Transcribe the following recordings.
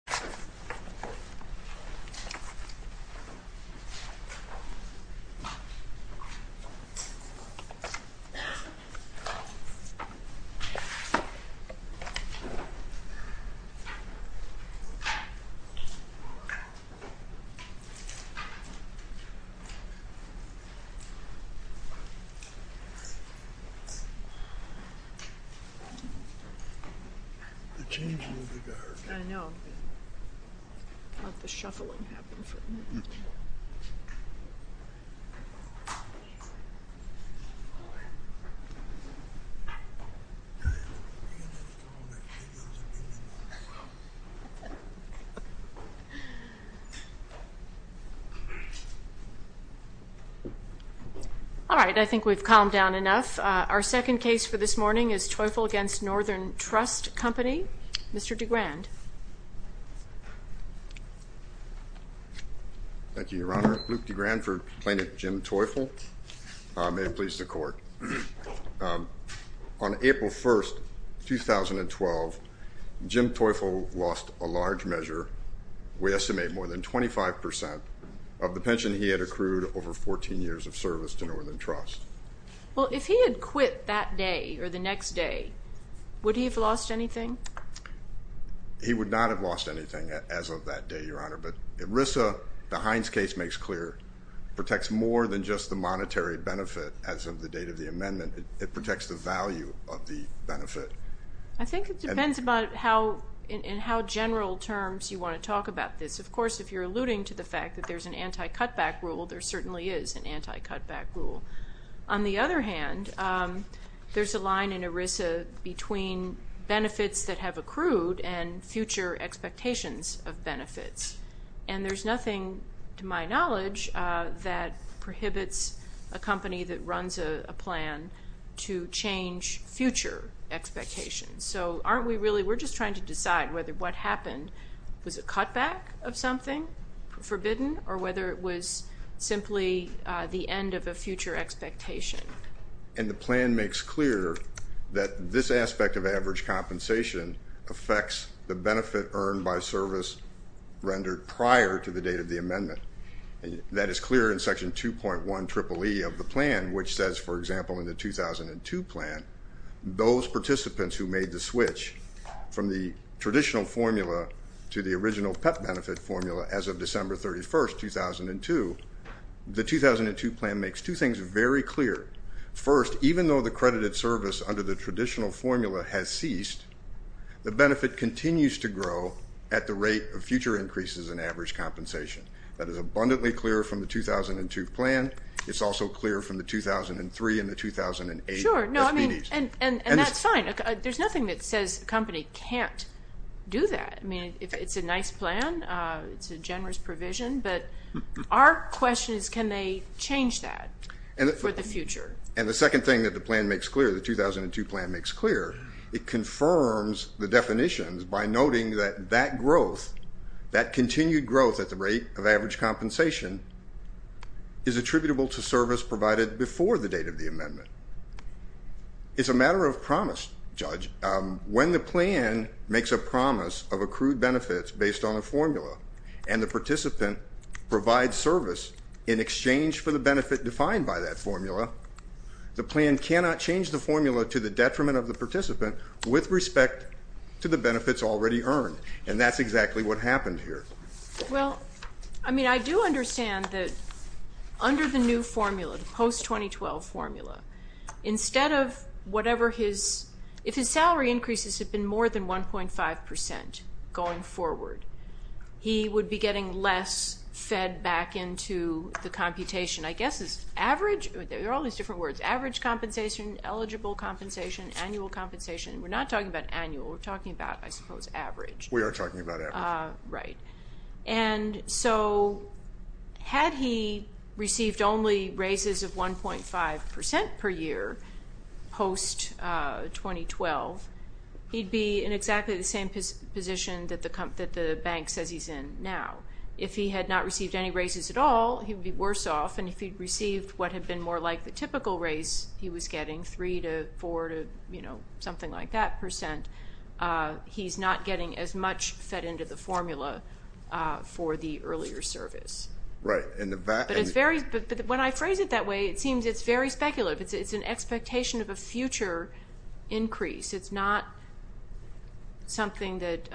terminal 6.1 was declared open for business the typical opening hours at Teufel's workshop The shuffling All right, I think we've calmed down enough our second case for this morning is Teufel against Northern Trust Company, Mr. DeGrand Thank you, Your Honor. Luke DeGrand for Plaintiff Jim Teufel. May it please the court. On April 1st, 2012, Jim Teufel lost a large measure, we estimate more than 25% of the pension he had accrued over 14 years of service to Northern Trust. Well if he had quit that day or the next day, would he have lost anything? He would not have lost anything as of that day, Your Honor. But ERISA, the Heinz case makes clear, protects more than just the monetary benefit as of the date of the amendment. It protects the value of the benefit. I think it depends in how general terms you want to talk about this. Of course, if you're alluding to the fact that there's an anti-cutback rule, there certainly is an anti-cutback rule. On the other hand, there's a line in ERISA between benefits that have accrued and future expectations of benefits. And there's nothing, to my knowledge, that prohibits a company that runs a plan to change future expectations. So aren't we really, we're just trying to decide whether what happened was a cutback of something, forbidden, or whether it was simply the end of a future expectation. And the plan makes clear that this aspect of average compensation affects the benefit earned by service rendered prior to the date of the amendment. That is clear in Section 2.1 Triple E of the plan, which says, for example, in the 2002 plan, those participants who made the switch from the traditional formula to the original PEP benefit formula as of December 31st, 2002, the 2002 plan makes two things very clear. First, even though the credited service under the traditional formula has ceased, the benefit continues to grow at the rate of future increases in average compensation. That is abundantly clear from the 2002 plan. It's also clear from the 2003 and the 2008 SBDs. And that's fine. There's nothing that says a company can't do that. I mean, it's a nice plan. It's a generous provision. But our question is, can they change that for the future? And the second thing that the plan makes clear, the 2002 plan makes clear, it confirms the definitions by noting that that growth, that continued growth at the rate of average compensation, is attributable to service provided before the date of the amendment. It's a matter of promise, Judge. When the plan makes a promise of accrued benefits based on a formula and the participant provides service in exchange for the benefit defined by that formula, the plan cannot change the formula to the detriment of the participant with respect to the benefits already earned. And that's exactly what happened here. Well, I mean, I do understand that under the new formula, the post-2012 formula, instead of whatever his, if his salary increases had been more than 1.5 percent going forward, he would be getting less fed back into the computation. I guess it's average, there are all these different words, average compensation, eligible compensation, annual compensation. We're not talking about annual, we're talking about, I suppose, average. We are talking about average. Right. And so had he received only raises of 1.5 percent per year post-2012, he'd be in exactly the same position that the bank says he's in now. If he had not received any raises at all, he would be worse off, and if he'd received what had been more like the typical raise he was getting, 3 to 4 to, you know, something like that percent, he's not getting as much fed into the formula for the earlier service. Right. And the fact... But it's very, when I phrase it that way, it seems it's very speculative. It's an expectation of a future increase. It's not something that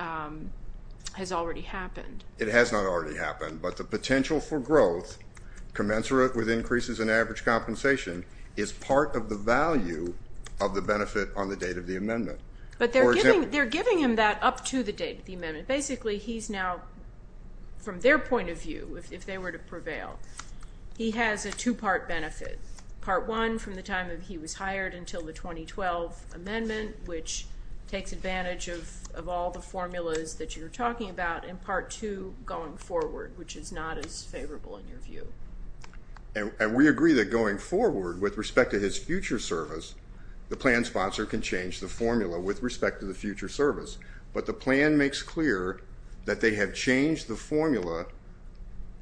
has already happened. It has not already happened, but the potential for growth commensurate with increases in average compensation is part of the value of the benefit on the date of the amendment. But they're giving him that up to the date of the amendment. Basically, he's now, from their point of view, if they were to prevail, he has a two-part benefit. Part one, from the time that he was hired until the 2012 amendment, which takes advantage of all the formulas that you're talking about, and part two, going forward, which is not as favorable in your view. And we agree that going forward, with respect to his future service, the plan sponsor can change the formula with respect to the future service, but the plan makes clear that they have changed the formula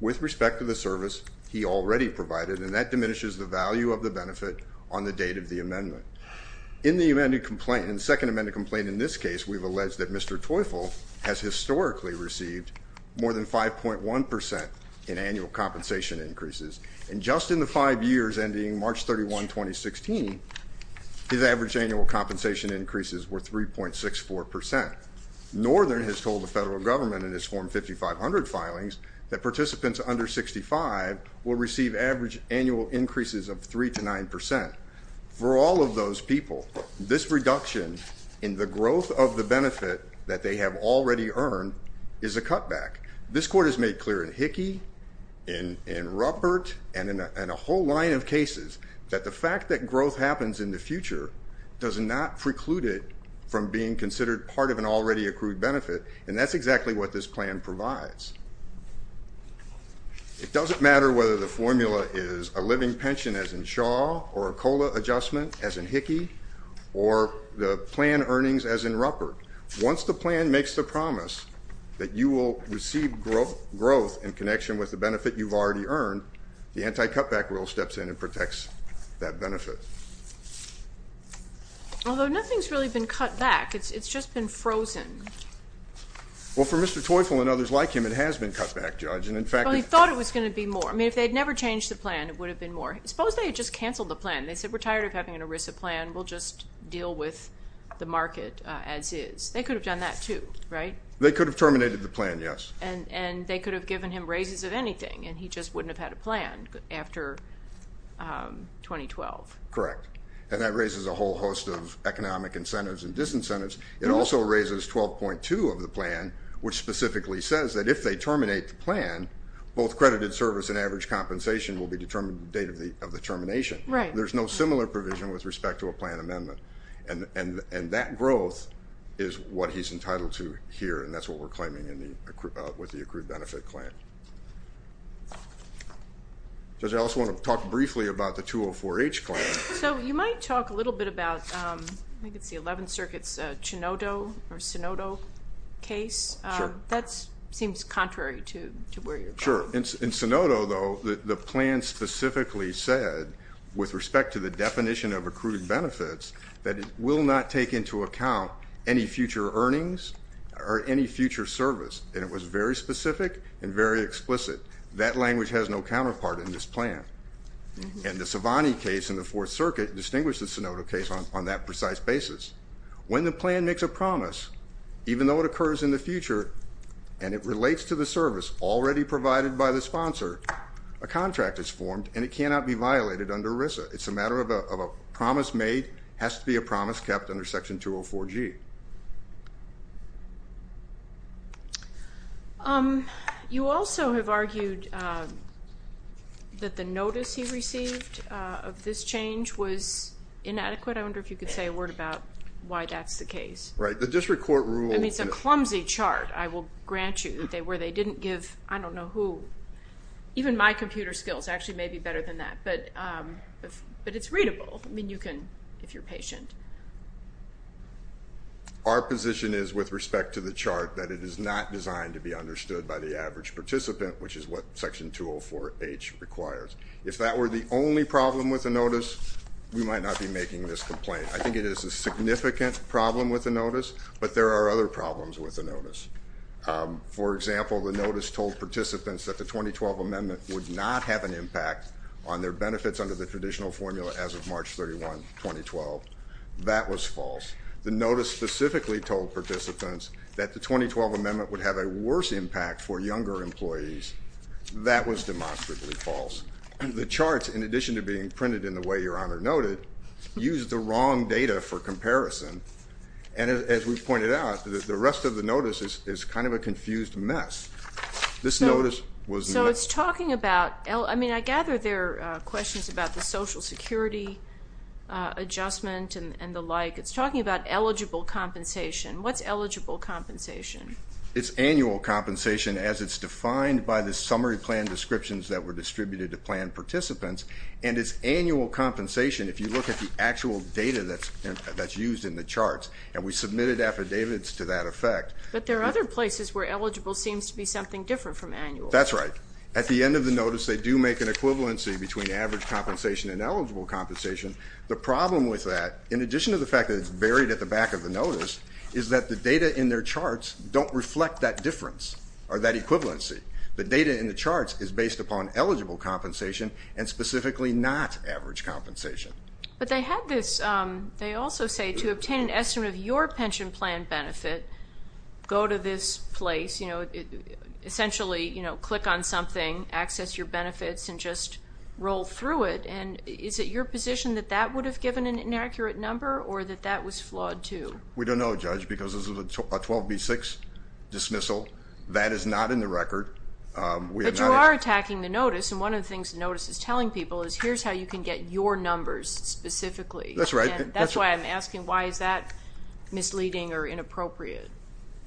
with respect to the service he already provided, and that diminishes the value of the benefit on the date of the amendment. In the amended complaint, in the second amended complaint in this case, we've alleged that Mr. Teufel has historically received more than 5.1% in annual compensation increases. And just in the five years ending March 31, 2016, his average annual compensation increases were 3.64%. Northern has told the federal government in its Form 5500 filings that participants under 65 will receive average annual increases of 3 to 9%. For all of those people, this reduction in the growth of the benefit that they have already earned is a cutback. This court has made clear in Hickey, in Ruppert, and in a whole line of cases, that the fact that growth happens in the future does not preclude it from being considered part of an already accrued benefit, and that's exactly what this plan provides. It doesn't matter whether the formula is a living pension, as in Shaw, or a COLA adjustment, as in Hickey, or the plan earnings, as in Ruppert. Once the plan makes the promise that you will receive growth in connection with the benefit you've already earned, the anti-cutback rule steps in and protects that benefit. Although nothing's really been cut back. It's just been frozen. Well, for Mr. Teufel and others like him, it has been cut back, Judge. Well, he thought it was going to be more. I mean, if they had never changed the plan, it would have been more. Suppose they had just canceled the plan. They said, we're tired of having an ERISA plan. We'll just deal with the market as is. They could have done that, too, right? They could have terminated the plan, yes. And they could have given him raises of anything, and he just wouldn't have had a plan after 2012. Correct. And that raises a whole host of economic incentives and disincentives. It also raises 12.2 of the plan, which specifically says that if they terminate the plan, both credited service and average compensation will be determined at the date of the termination. Right. There's no similar provision with respect to a plan amendment. And that growth is what he's entitled to here, and that's what we're claiming with the accrued benefit claim. Judge, I also want to talk briefly about the 204H claim. So you might talk a little bit about, I think it's the 11th Circuit's Chinodo or Sinodo case. Sure. That seems contrary to where you're going. Sure. In Sinodo, though, the plan specifically said, with respect to the definition of accrued benefits, that it will not take into account any future earnings or any future service. And it was very specific and very explicit. That language has no counterpart in this plan. And the Savani case in the Fourth Circuit distinguished the Sinodo case on that precise basis. When the plan makes a promise, even though it occurs in the future and it relates to the service already provided by the sponsor, a contract is formed and it cannot be violated under ERISA. It's a matter of a promise made has to be a promise kept under Section 204G. You also have argued that the notice he received of this change was inadequate. I wonder if you could say a word about why that's the case. Right. The district court rule. I mean, it's a clumsy chart, I will grant you. Where they didn't give, I don't know who, even my computer skills actually may be better than that. But it's readable. I mean, you can, if you're patient. Our position is, with respect to the chart, that it is not designed to be understood by the average participant, which is what Section 204H requires. If that were the only problem with the notice, we might not be making this complaint. I think it is a significant problem with the notice, but there are other problems with the notice. For example, the notice told participants that the 2012 amendment would not have an impact on their benefits under the traditional formula as of March 31, 2012. That was false. The notice specifically told participants that the 2012 amendment would have a worse impact for younger employees. That was demonstrably false. The charts, in addition to being printed in the way Your Honor noted, used the wrong data for comparison. And as we've pointed out, the rest of the notice is kind of a confused mess. This notice was not. So it's talking about, I mean, I gather there are questions about the Social Security adjustment and the like. It's talking about eligible compensation. What's eligible compensation? It's annual compensation as it's defined by the summary plan descriptions that were distributed to plan participants, and it's annual compensation if you look at the actual data that's used in the charts. And we submitted affidavits to that effect. But there are other places where eligible seems to be something different from annual. That's right. At the end of the notice, they do make an equivalency between average compensation and eligible compensation. The problem with that, in addition to the fact that it's buried at the back of the notice, is that the data in their charts don't reflect that difference or that equivalency. The data in the charts is based upon eligible compensation and specifically not average compensation. But they had this, they also say, to obtain an estimate of your pension plan benefit, go to this place, essentially click on something, access your benefits, and just roll through it. And is it your position that that would have given an inaccurate number or that that was flawed too? We don't know, Judge, because this is a 12B6 dismissal. That is not in the record. But you are attacking the notice. And one of the things the notice is telling people is here's how you can get your numbers specifically. That's right. That's why I'm asking why is that misleading or inappropriate?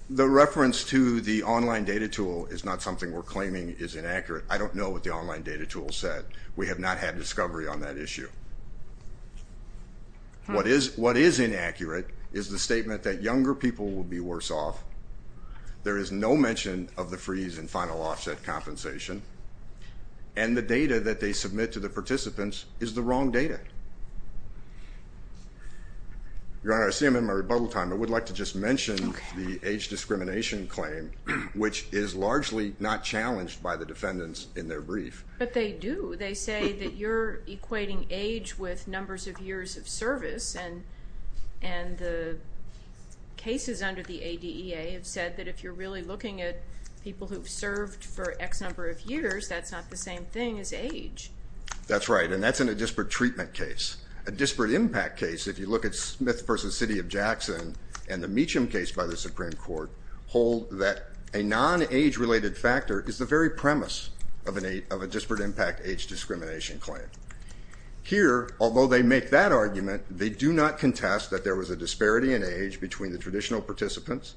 The reference to the online data tool is not something we're claiming is inaccurate. I don't know what the online data tool said. But we have not had discovery on that issue. What is inaccurate is the statement that younger people will be worse off, there is no mention of the freeze and final offset compensation, and the data that they submit to the participants is the wrong data. Your Honor, I see I'm in my rebuttal time, but I would like to just mention the age discrimination claim, which is largely not challenged by the defendants in their brief. But they do. They say that you're equating age with numbers of years of service, and the cases under the ADEA have said that if you're really looking at people who've served for X number of years, that's not the same thing as age. That's right, and that's in a disparate treatment case. A disparate impact case, if you look at Smith v. City of Jackson and the Meacham case by the Supreme Court, hold that a non-age-related factor is the very premise of a disparate impact age discrimination claim. Here, although they make that argument, they do not contest that there was a disparity in age between the traditional participants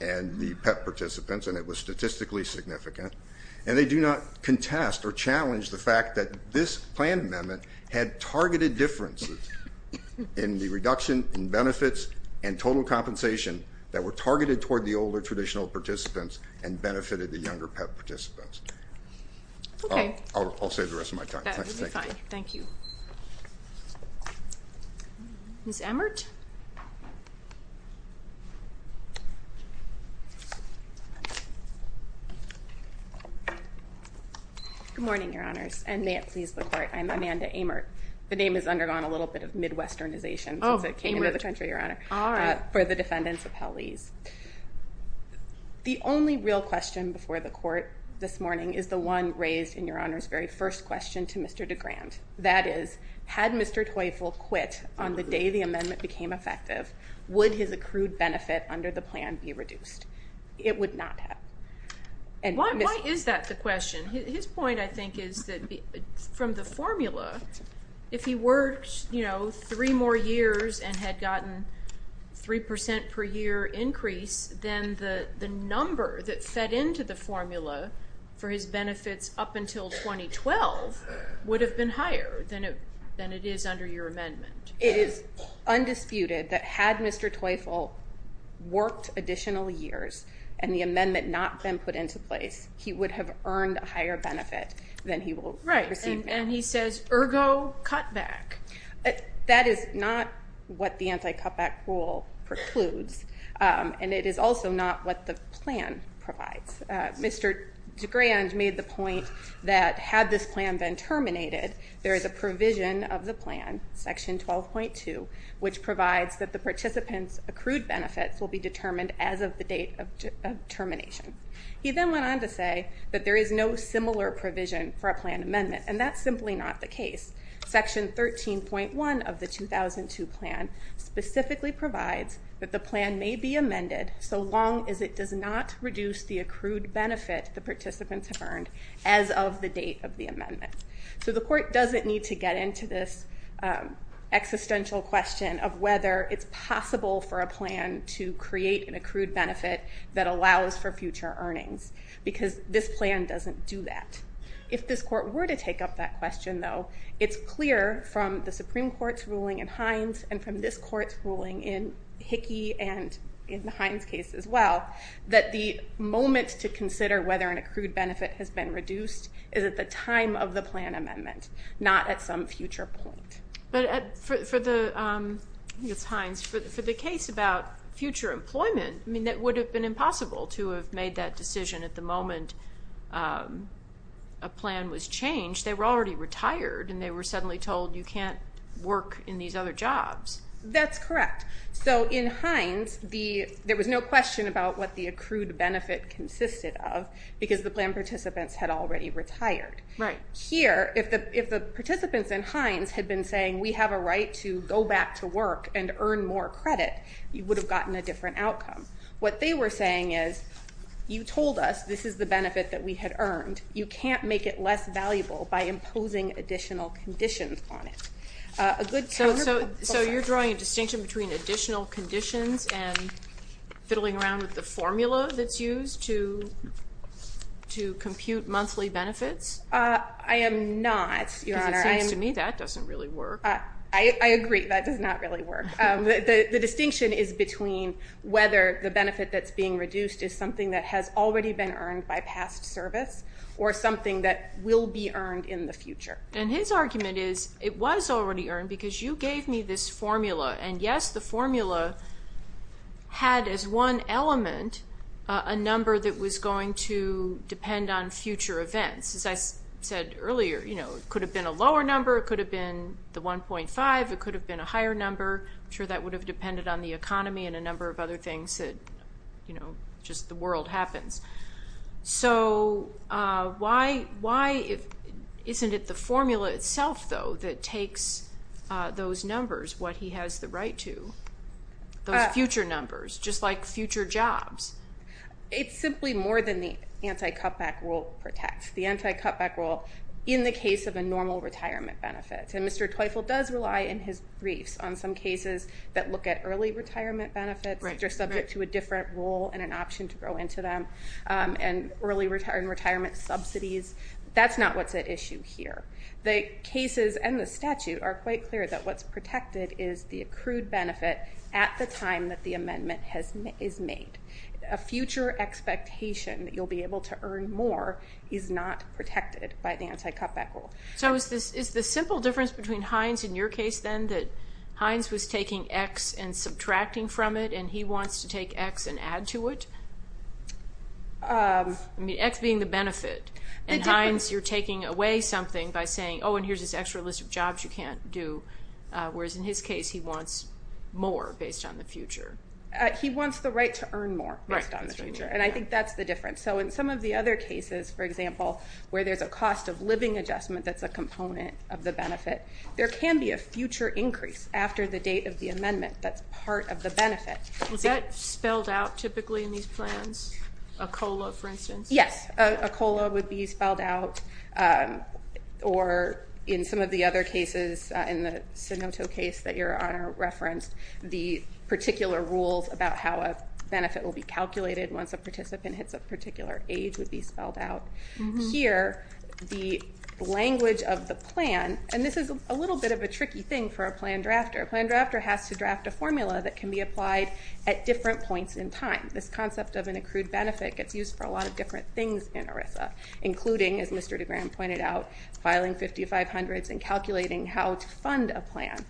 and the PEP participants, and it was statistically significant. And they do not contest or challenge the fact that this plan amendment had targeted differences in the reduction in benefits and total compensation that were targeted toward the older traditional participants and benefited the younger PEP participants. Okay. I'll save the rest of my time. That would be fine. Thank you. Ms. Emert? Good morning, Your Honors, and may it please the Court. I'm Amanda Emert. The name has undergone a little bit of Midwesternization since it came into the country, Your Honor, for the defendants' appellees. The only real question before the Court this morning is the one raised in Your Honor's very first question to Mr. DeGrand. That is, had Mr. Teufel quit on the day the amendment became effective, would his accrued benefit under the plan be reduced? It would not have. Why is that the question? His point, I think, is that from the formula, if he worked three more years and had gotten 3% per year increase, then the number that fed into the formula for his benefits up until 2012 would have been higher than it is under your amendment. It is undisputed that had Mr. Teufel worked additional years and the amendment not been put into place, he would have earned a higher benefit than he will receive now. And he says, ergo cutback. That is not what the anti-cutback rule precludes, and it is also not what the plan provides. Mr. DeGrand made the point that had this plan been terminated, there is a provision of the plan, Section 12.2, which provides that the participants' accrued benefits will be determined as of the date of termination. He then went on to say that there is no similar provision for a plan amendment, and that's simply not the case. Section 13.1 of the 2002 plan specifically provides that the plan may be amended so long as it does not reduce the accrued benefit the participants have earned as of the date of the amendment. So the court doesn't need to get into this existential question of whether it's possible for a plan to create an accrued benefit that allows for future earnings, because this plan doesn't do that. If this court were to take up that question, though, it's clear from the Supreme Court's ruling in Hines and from this court's ruling in Hickey and in the Hines case as well, that the moment to consider whether an accrued benefit has been reduced is at the time of the plan amendment, not at some future point. But for the case about future employment, that would have been impossible to have made that decision at the moment a plan was changed. They were already retired, and they were suddenly told you can't work in these other jobs. That's correct. So in Hines there was no question about what the accrued benefit consisted of because the plan participants had already retired. Here, if the participants in Hines had been saying we have a right to go back to work and earn more credit, you would have gotten a different outcome. What they were saying is you told us this is the benefit that we had earned. You can't make it less valuable by imposing additional conditions on it. So you're drawing a distinction between additional conditions and fiddling around with the formula that's used to compute monthly benefits? I am not, Your Honor. Because it seems to me that doesn't really work. I agree that does not really work. The distinction is between whether the benefit that's being reduced is something that has already been earned by past service or something that will be earned in the future. And his argument is it was already earned because you gave me this formula, and, yes, the formula had as one element a number that was going to depend on future events. As I said earlier, it could have been a lower number, it could have been the 1.5, it could have been a higher number. I'm sure that would have depended on the economy and a number of other things that, you know, just the world happens. So why isn't it the formula itself, though, that takes those numbers, what he has the right to, those future numbers, just like future jobs? It's simply more than the anti-cutback rule protects. The anti-cutback rule in the case of a normal retirement benefit. And Mr. Teufel does rely in his briefs on some cases that look at early retirement benefits, which are subject to a different rule and an option to go into them, and early retirement subsidies. That's not what's at issue here. The cases and the statute are quite clear that what's protected is the accrued benefit at the time that the amendment is made. A future expectation that you'll be able to earn more is not protected by the anti-cutback rule. So is the simple difference between Hines in your case, then, that Hines was taking X and subtracting from it, and he wants to take X and add to it? I mean, X being the benefit. And Hines, you're taking away something by saying, oh, and here's this extra list of jobs you can't do, whereas in his case he wants more based on the future. He wants the right to earn more based on the future, and I think that's the difference. So in some of the other cases, for example, where there's a cost-of-living adjustment that's a component of the benefit, there can be a future increase after the date of the amendment that's part of the benefit. Is that spelled out typically in these plans, a COLA, for instance? Yes, a COLA would be spelled out, or in some of the other cases, in the Sinoto case that Your Honor referenced, the particular rules about how a benefit will be calculated once a participant hits a particular age would be spelled out. Here, the language of the plan, and this is a little bit of a tricky thing for a plan drafter. A plan drafter has to draft a formula that can be applied at different points in time. This concept of an accrued benefit gets used for a lot of different things in ERISA, including, as Mr. DeGraham pointed out, filing 5500s and calculating how to fund a plan.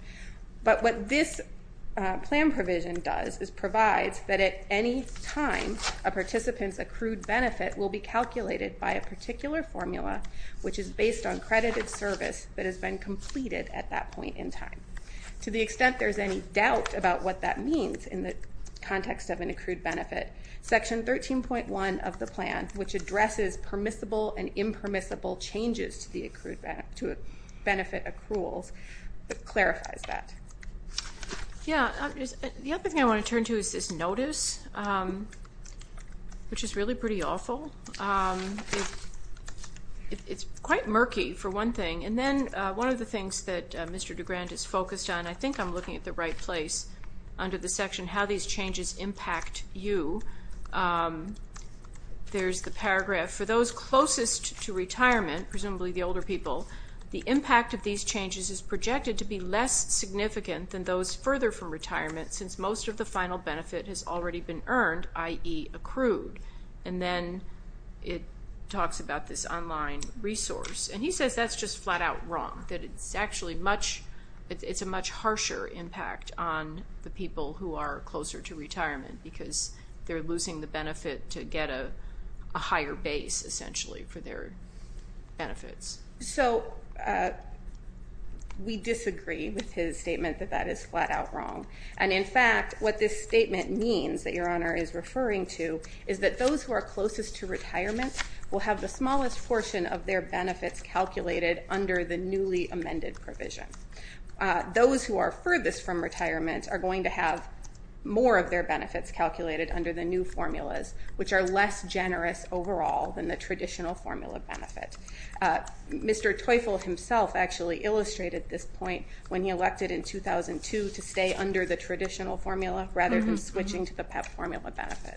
But what this plan provision does is provides that at any time a participant's accrued benefit will be calculated by a particular formula, which is based on credited service that has been completed at that point in time. To the extent there's any doubt about what that means in the context of an accrued benefit, Section 13.1 of the plan, which addresses permissible and impermissible changes to benefit accruals, clarifies that. The other thing I want to turn to is this notice, which is really pretty awful. It's quite murky, for one thing, and then one of the things that Mr. DeGraham is focused on, I think I'm looking at the right place under the section, how these changes impact you. There's the paragraph, for those closest to retirement, presumably the older people, the impact of these changes is projected to be less significant than those further from retirement, since most of the final benefit has already been earned, i.e. accrued. And then it talks about this online resource, and he says that's just flat-out wrong, that it's actually a much harsher impact on the people who are closer to retirement because they're losing the benefit to get a higher base, essentially, for their benefits. So we disagree with his statement that that is flat-out wrong. And in fact, what this statement means that Your Honor is referring to is that those who are closest to retirement will have the smallest portion of their benefits calculated under the newly amended provision. Those who are furthest from retirement are going to have more of their benefits calculated under the new formulas, which are less generous overall than the traditional formula benefit. Mr. Teufel himself actually illustrated this point when he elected in 2002 to stay under the traditional formula rather than switching to the PEP formula benefit.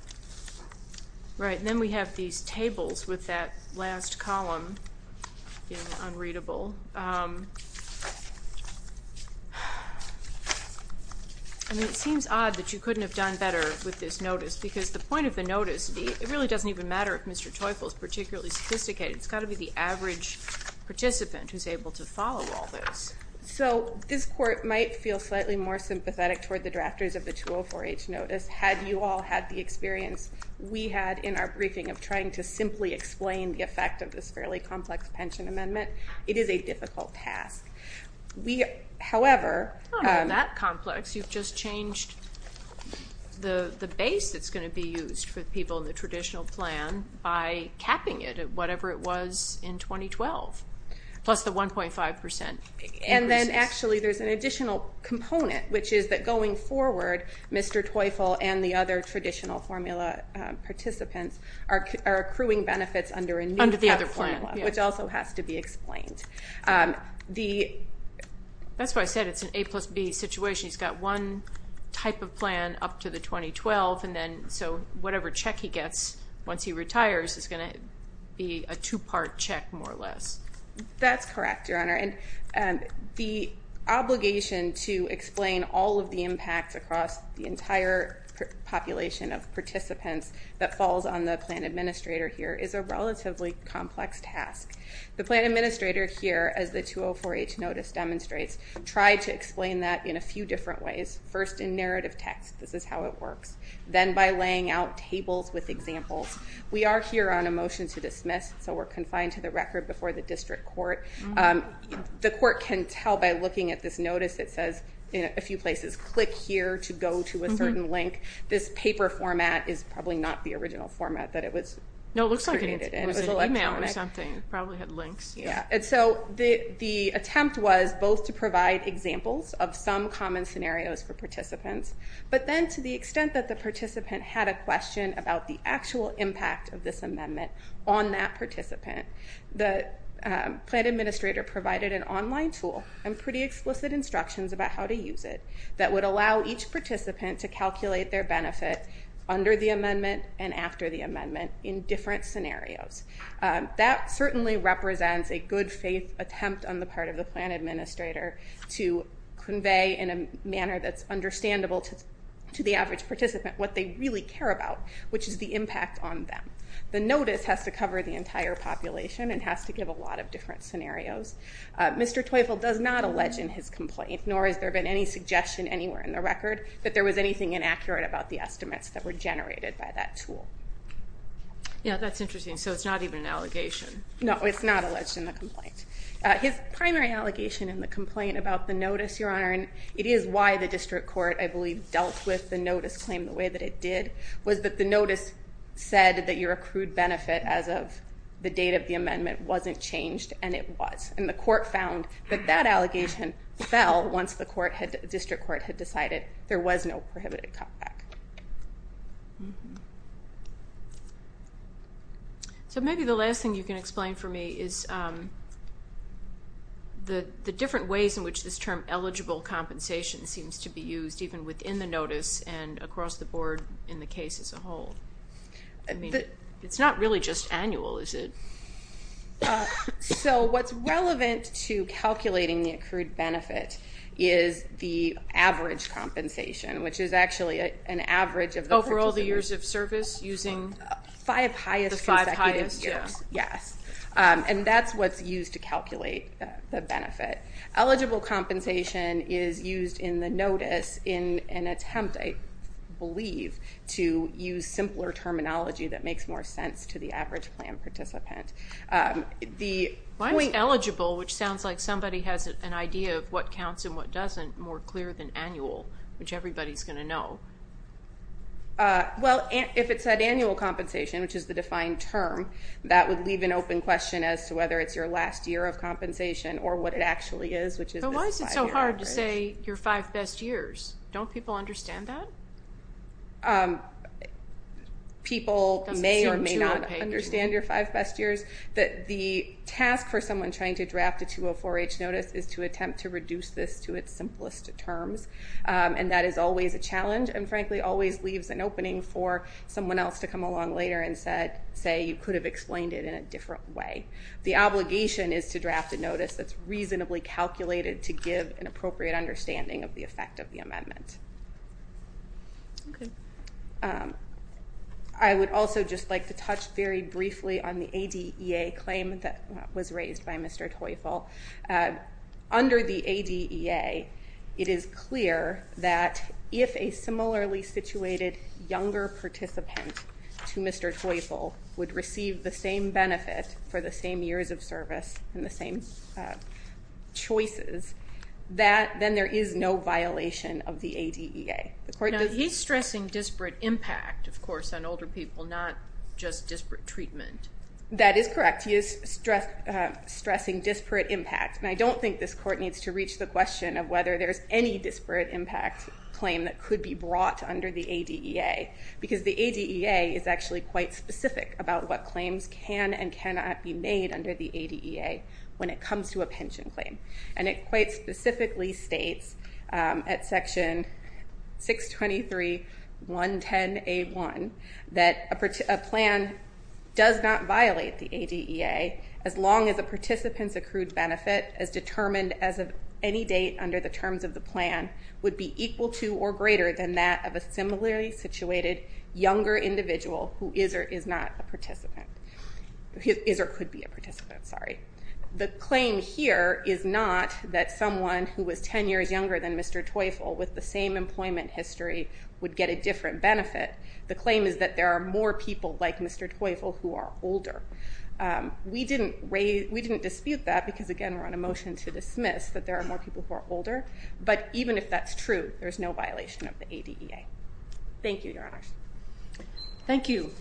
Right, and then we have these tables with that last column in unreadable. I mean, it seems odd that you couldn't have done better with this notice because the point of the notice, it really doesn't even matter if Mr. Teufel is particularly sophisticated. It's got to be the average participant who's able to follow all this. So this court might feel slightly more sympathetic toward the drafters of the 204-H notice had you all had the experience we had in our briefing of trying to simply explain the effect of this fairly complex pension amendment. It is a difficult task. Not all that complex. You've just changed the base that's going to be used for people in the traditional plan by capping it at whatever it was in 2012, plus the 1.5%. And then actually there's an additional component, which is that going forward, Mr. Teufel and the other traditional formula participants are accruing benefits under a new PEP formula, which also has to be explained. That's why I said it's an A plus B situation. He's got one type of plan up to the 2012, and then so whatever check he gets once he retires is going to be a two-part check, more or less. That's correct, Your Honor. And the obligation to explain all of the impacts across the entire population of participants that falls on the plan administrator here is a relatively complex task. The plan administrator here, as the 204-H notice demonstrates, tried to explain that in a few different ways. First in narrative text. This is how it works. Then by laying out tables with examples. We are here on a motion to dismiss, so we're confined to the record before the district court. The court can tell by looking at this notice. It says in a few places, click here to go to a certain link. This paper format is probably not the original format that it was created in. No, it looks like it was an email or something. It probably had links. The attempt was both to provide examples of some common scenarios for participants, but then to the extent that the participant had a question about the actual impact of this amendment on that participant, the plan administrator provided an online tool and pretty explicit instructions about how to use it that would allow each participant to calculate their benefit under the amendment and after the amendment in different scenarios. That certainly represents a good-faith attempt on the part of the plan administrator to convey in a manner that's understandable to the average participant what they really care about, which is the impact on them. The notice has to cover the entire population and has to give a lot of different scenarios. Mr. Teufel does not allege in his complaint, nor has there been any suggestion anywhere in the record, that there was anything inaccurate about the estimates that were generated by that tool. Yeah, that's interesting. So it's not even an allegation. No, it's not alleged in the complaint. His primary allegation in the complaint about the notice, Your Honor, and it is why the district court, I believe, dealt with the notice claim the way that it did, was that the notice said that your accrued benefit as of the date of the amendment wasn't changed, and it was. And the court found that that allegation fell once the district court had decided there was no prohibited cutback. So maybe the last thing you can explain for me is the different ways in which this term eligible compensation seems to be used, even within the notice and across the board in the case as a whole. It's not really just annual, is it? So what's relevant to calculating the accrued benefit is the average compensation, which is actually an average of the participant's... Overall, the years of service using... The five highest consecutive years, yes. And that's what's used to calculate the benefit. Eligible compensation is used in the notice in an attempt, I believe, to use simpler terminology that makes more sense to the average plan participant. Why is eligible, which sounds like somebody has an idea of what counts and what doesn't, more clear than annual, which everybody's going to know? Well, if it said annual compensation, which is the defined term, that would leave an open question as to whether it's your last year of compensation or what it actually is, which is... But why is it so hard to say your five best years? Don't people understand that? People may or may not understand your five best years. The task for someone trying to draft a 204-H notice is to attempt to reduce this to its simplest terms, and that is always a challenge and, frankly, always leaves an opening for someone else to come along later and say, you could have explained it in a different way. The obligation is to draft a notice that's reasonably calculated to give an appropriate understanding of the effect of the amendment. Okay. I would also just like to touch very briefly on the ADEA claim that was raised by Mr. Teufel. Under the ADEA, it is clear that if a similarly situated younger participant to Mr. Teufel would receive the same benefit for the same years of service and the same choices, then there is no violation of the ADEA. Now, he's stressing disparate impact, of course, on older people, not just disparate treatment. That is correct. He is stressing disparate impact, and I don't think this court needs to reach the question of whether there's any disparate impact claim that could be brought under the ADEA, because the ADEA is actually quite specific about what claims can and cannot be made under the ADEA when it comes to a pension claim. And it quite specifically states at Section 623.110a.1 that a plan does not violate the ADEA as long as a participant's accrued benefit as determined as of any date under the terms of the plan would be equal to or greater than that of a similarly situated younger individual who is or is not a participant. Is or could be a participant, sorry. The claim here is not that someone who was 10 years younger than Mr. Teufel with the same employment history would get a different benefit. The claim is that there are more people like Mr. Teufel who are older. We didn't dispute that because, again, we're on a motion to dismiss that there are more people who are older, but even if that's true, there's no violation of the ADEA. Thank you, Your Honor. Thank you.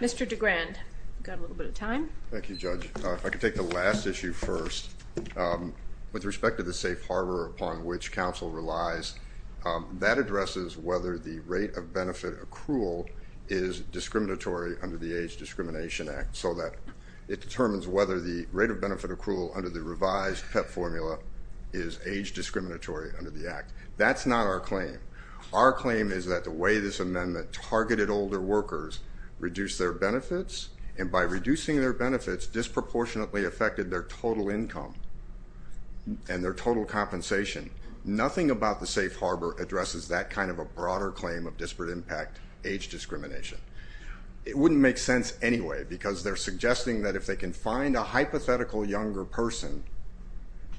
Mr. DeGrande, you've got a little bit of time. Thank you, Judge. If I could take the last issue first. With respect to the safe harbor upon which counsel relies, that addresses whether the rate of benefit accrual is discriminatory under the Age Discrimination Act so that it determines whether the rate of benefit accrual under the revised PEP formula is age discriminatory under the Act. That's not our claim. Our claim is that the way this amendment targeted older workers reduced their benefits, and by reducing their benefits, disproportionately affected their total income and their total compensation. Nothing about the safe harbor addresses that kind of a broader claim of disparate impact age discrimination. It wouldn't make sense anyway because they're suggesting that if they can find a hypothetical younger person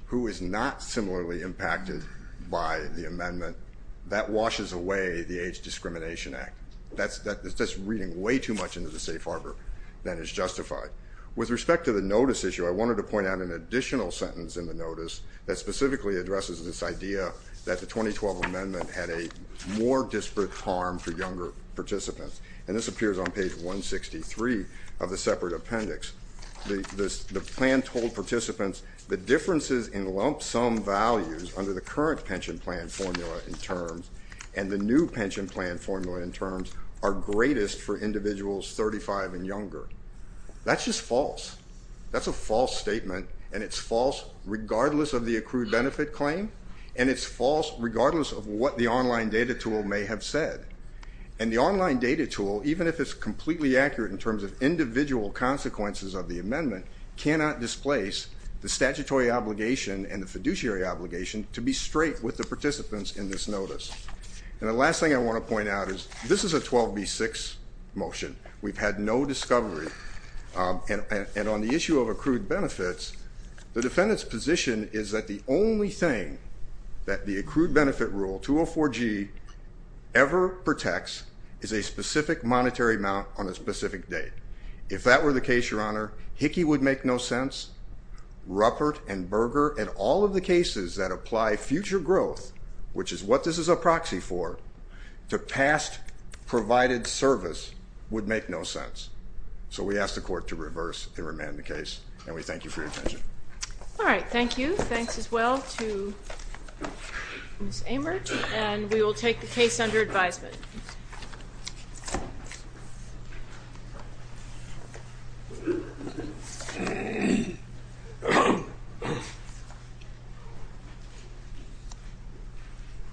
who is not similarly impacted by the amendment, that washes away the Age Discrimination Act. That's reading way too much into the safe harbor than is justified. With respect to the notice issue, I wanted to point out an additional sentence in the notice that specifically addresses this idea that the 2012 amendment had a more disparate harm for younger participants, and this appears on page 163 of the separate appendix. The plan told participants the differences in lump sum values under the current pension plan formula in terms and the new pension plan formula in terms are greatest for individuals 35 and younger. That's just false. That's a false statement, and it's false regardless of the accrued benefit claim, and it's false regardless of what the online data tool may have said. And the online data tool, even if it's completely accurate in terms of individual consequences of the amendment, cannot displace the statutory obligation and the fiduciary obligation to be straight with the participants in this notice. And the last thing I want to point out is this is a 12B6 motion. We've had no discovery, and on the issue of accrued benefits, the defendant's position is that the only thing that the accrued benefit rule, 204G, ever protects is a specific monetary amount on a specific date. If that were the case, Your Honor, Hickey would make no sense. Ruppert and Berger and all of the cases that apply future growth, which is what this is a proxy for, to past provided service would make no sense. So we ask the Court to reverse and remand the case, and we thank you for your attention. All right, thank you. Thanks as well to Ms. Amert, and we will take the case under advisement. Thank you.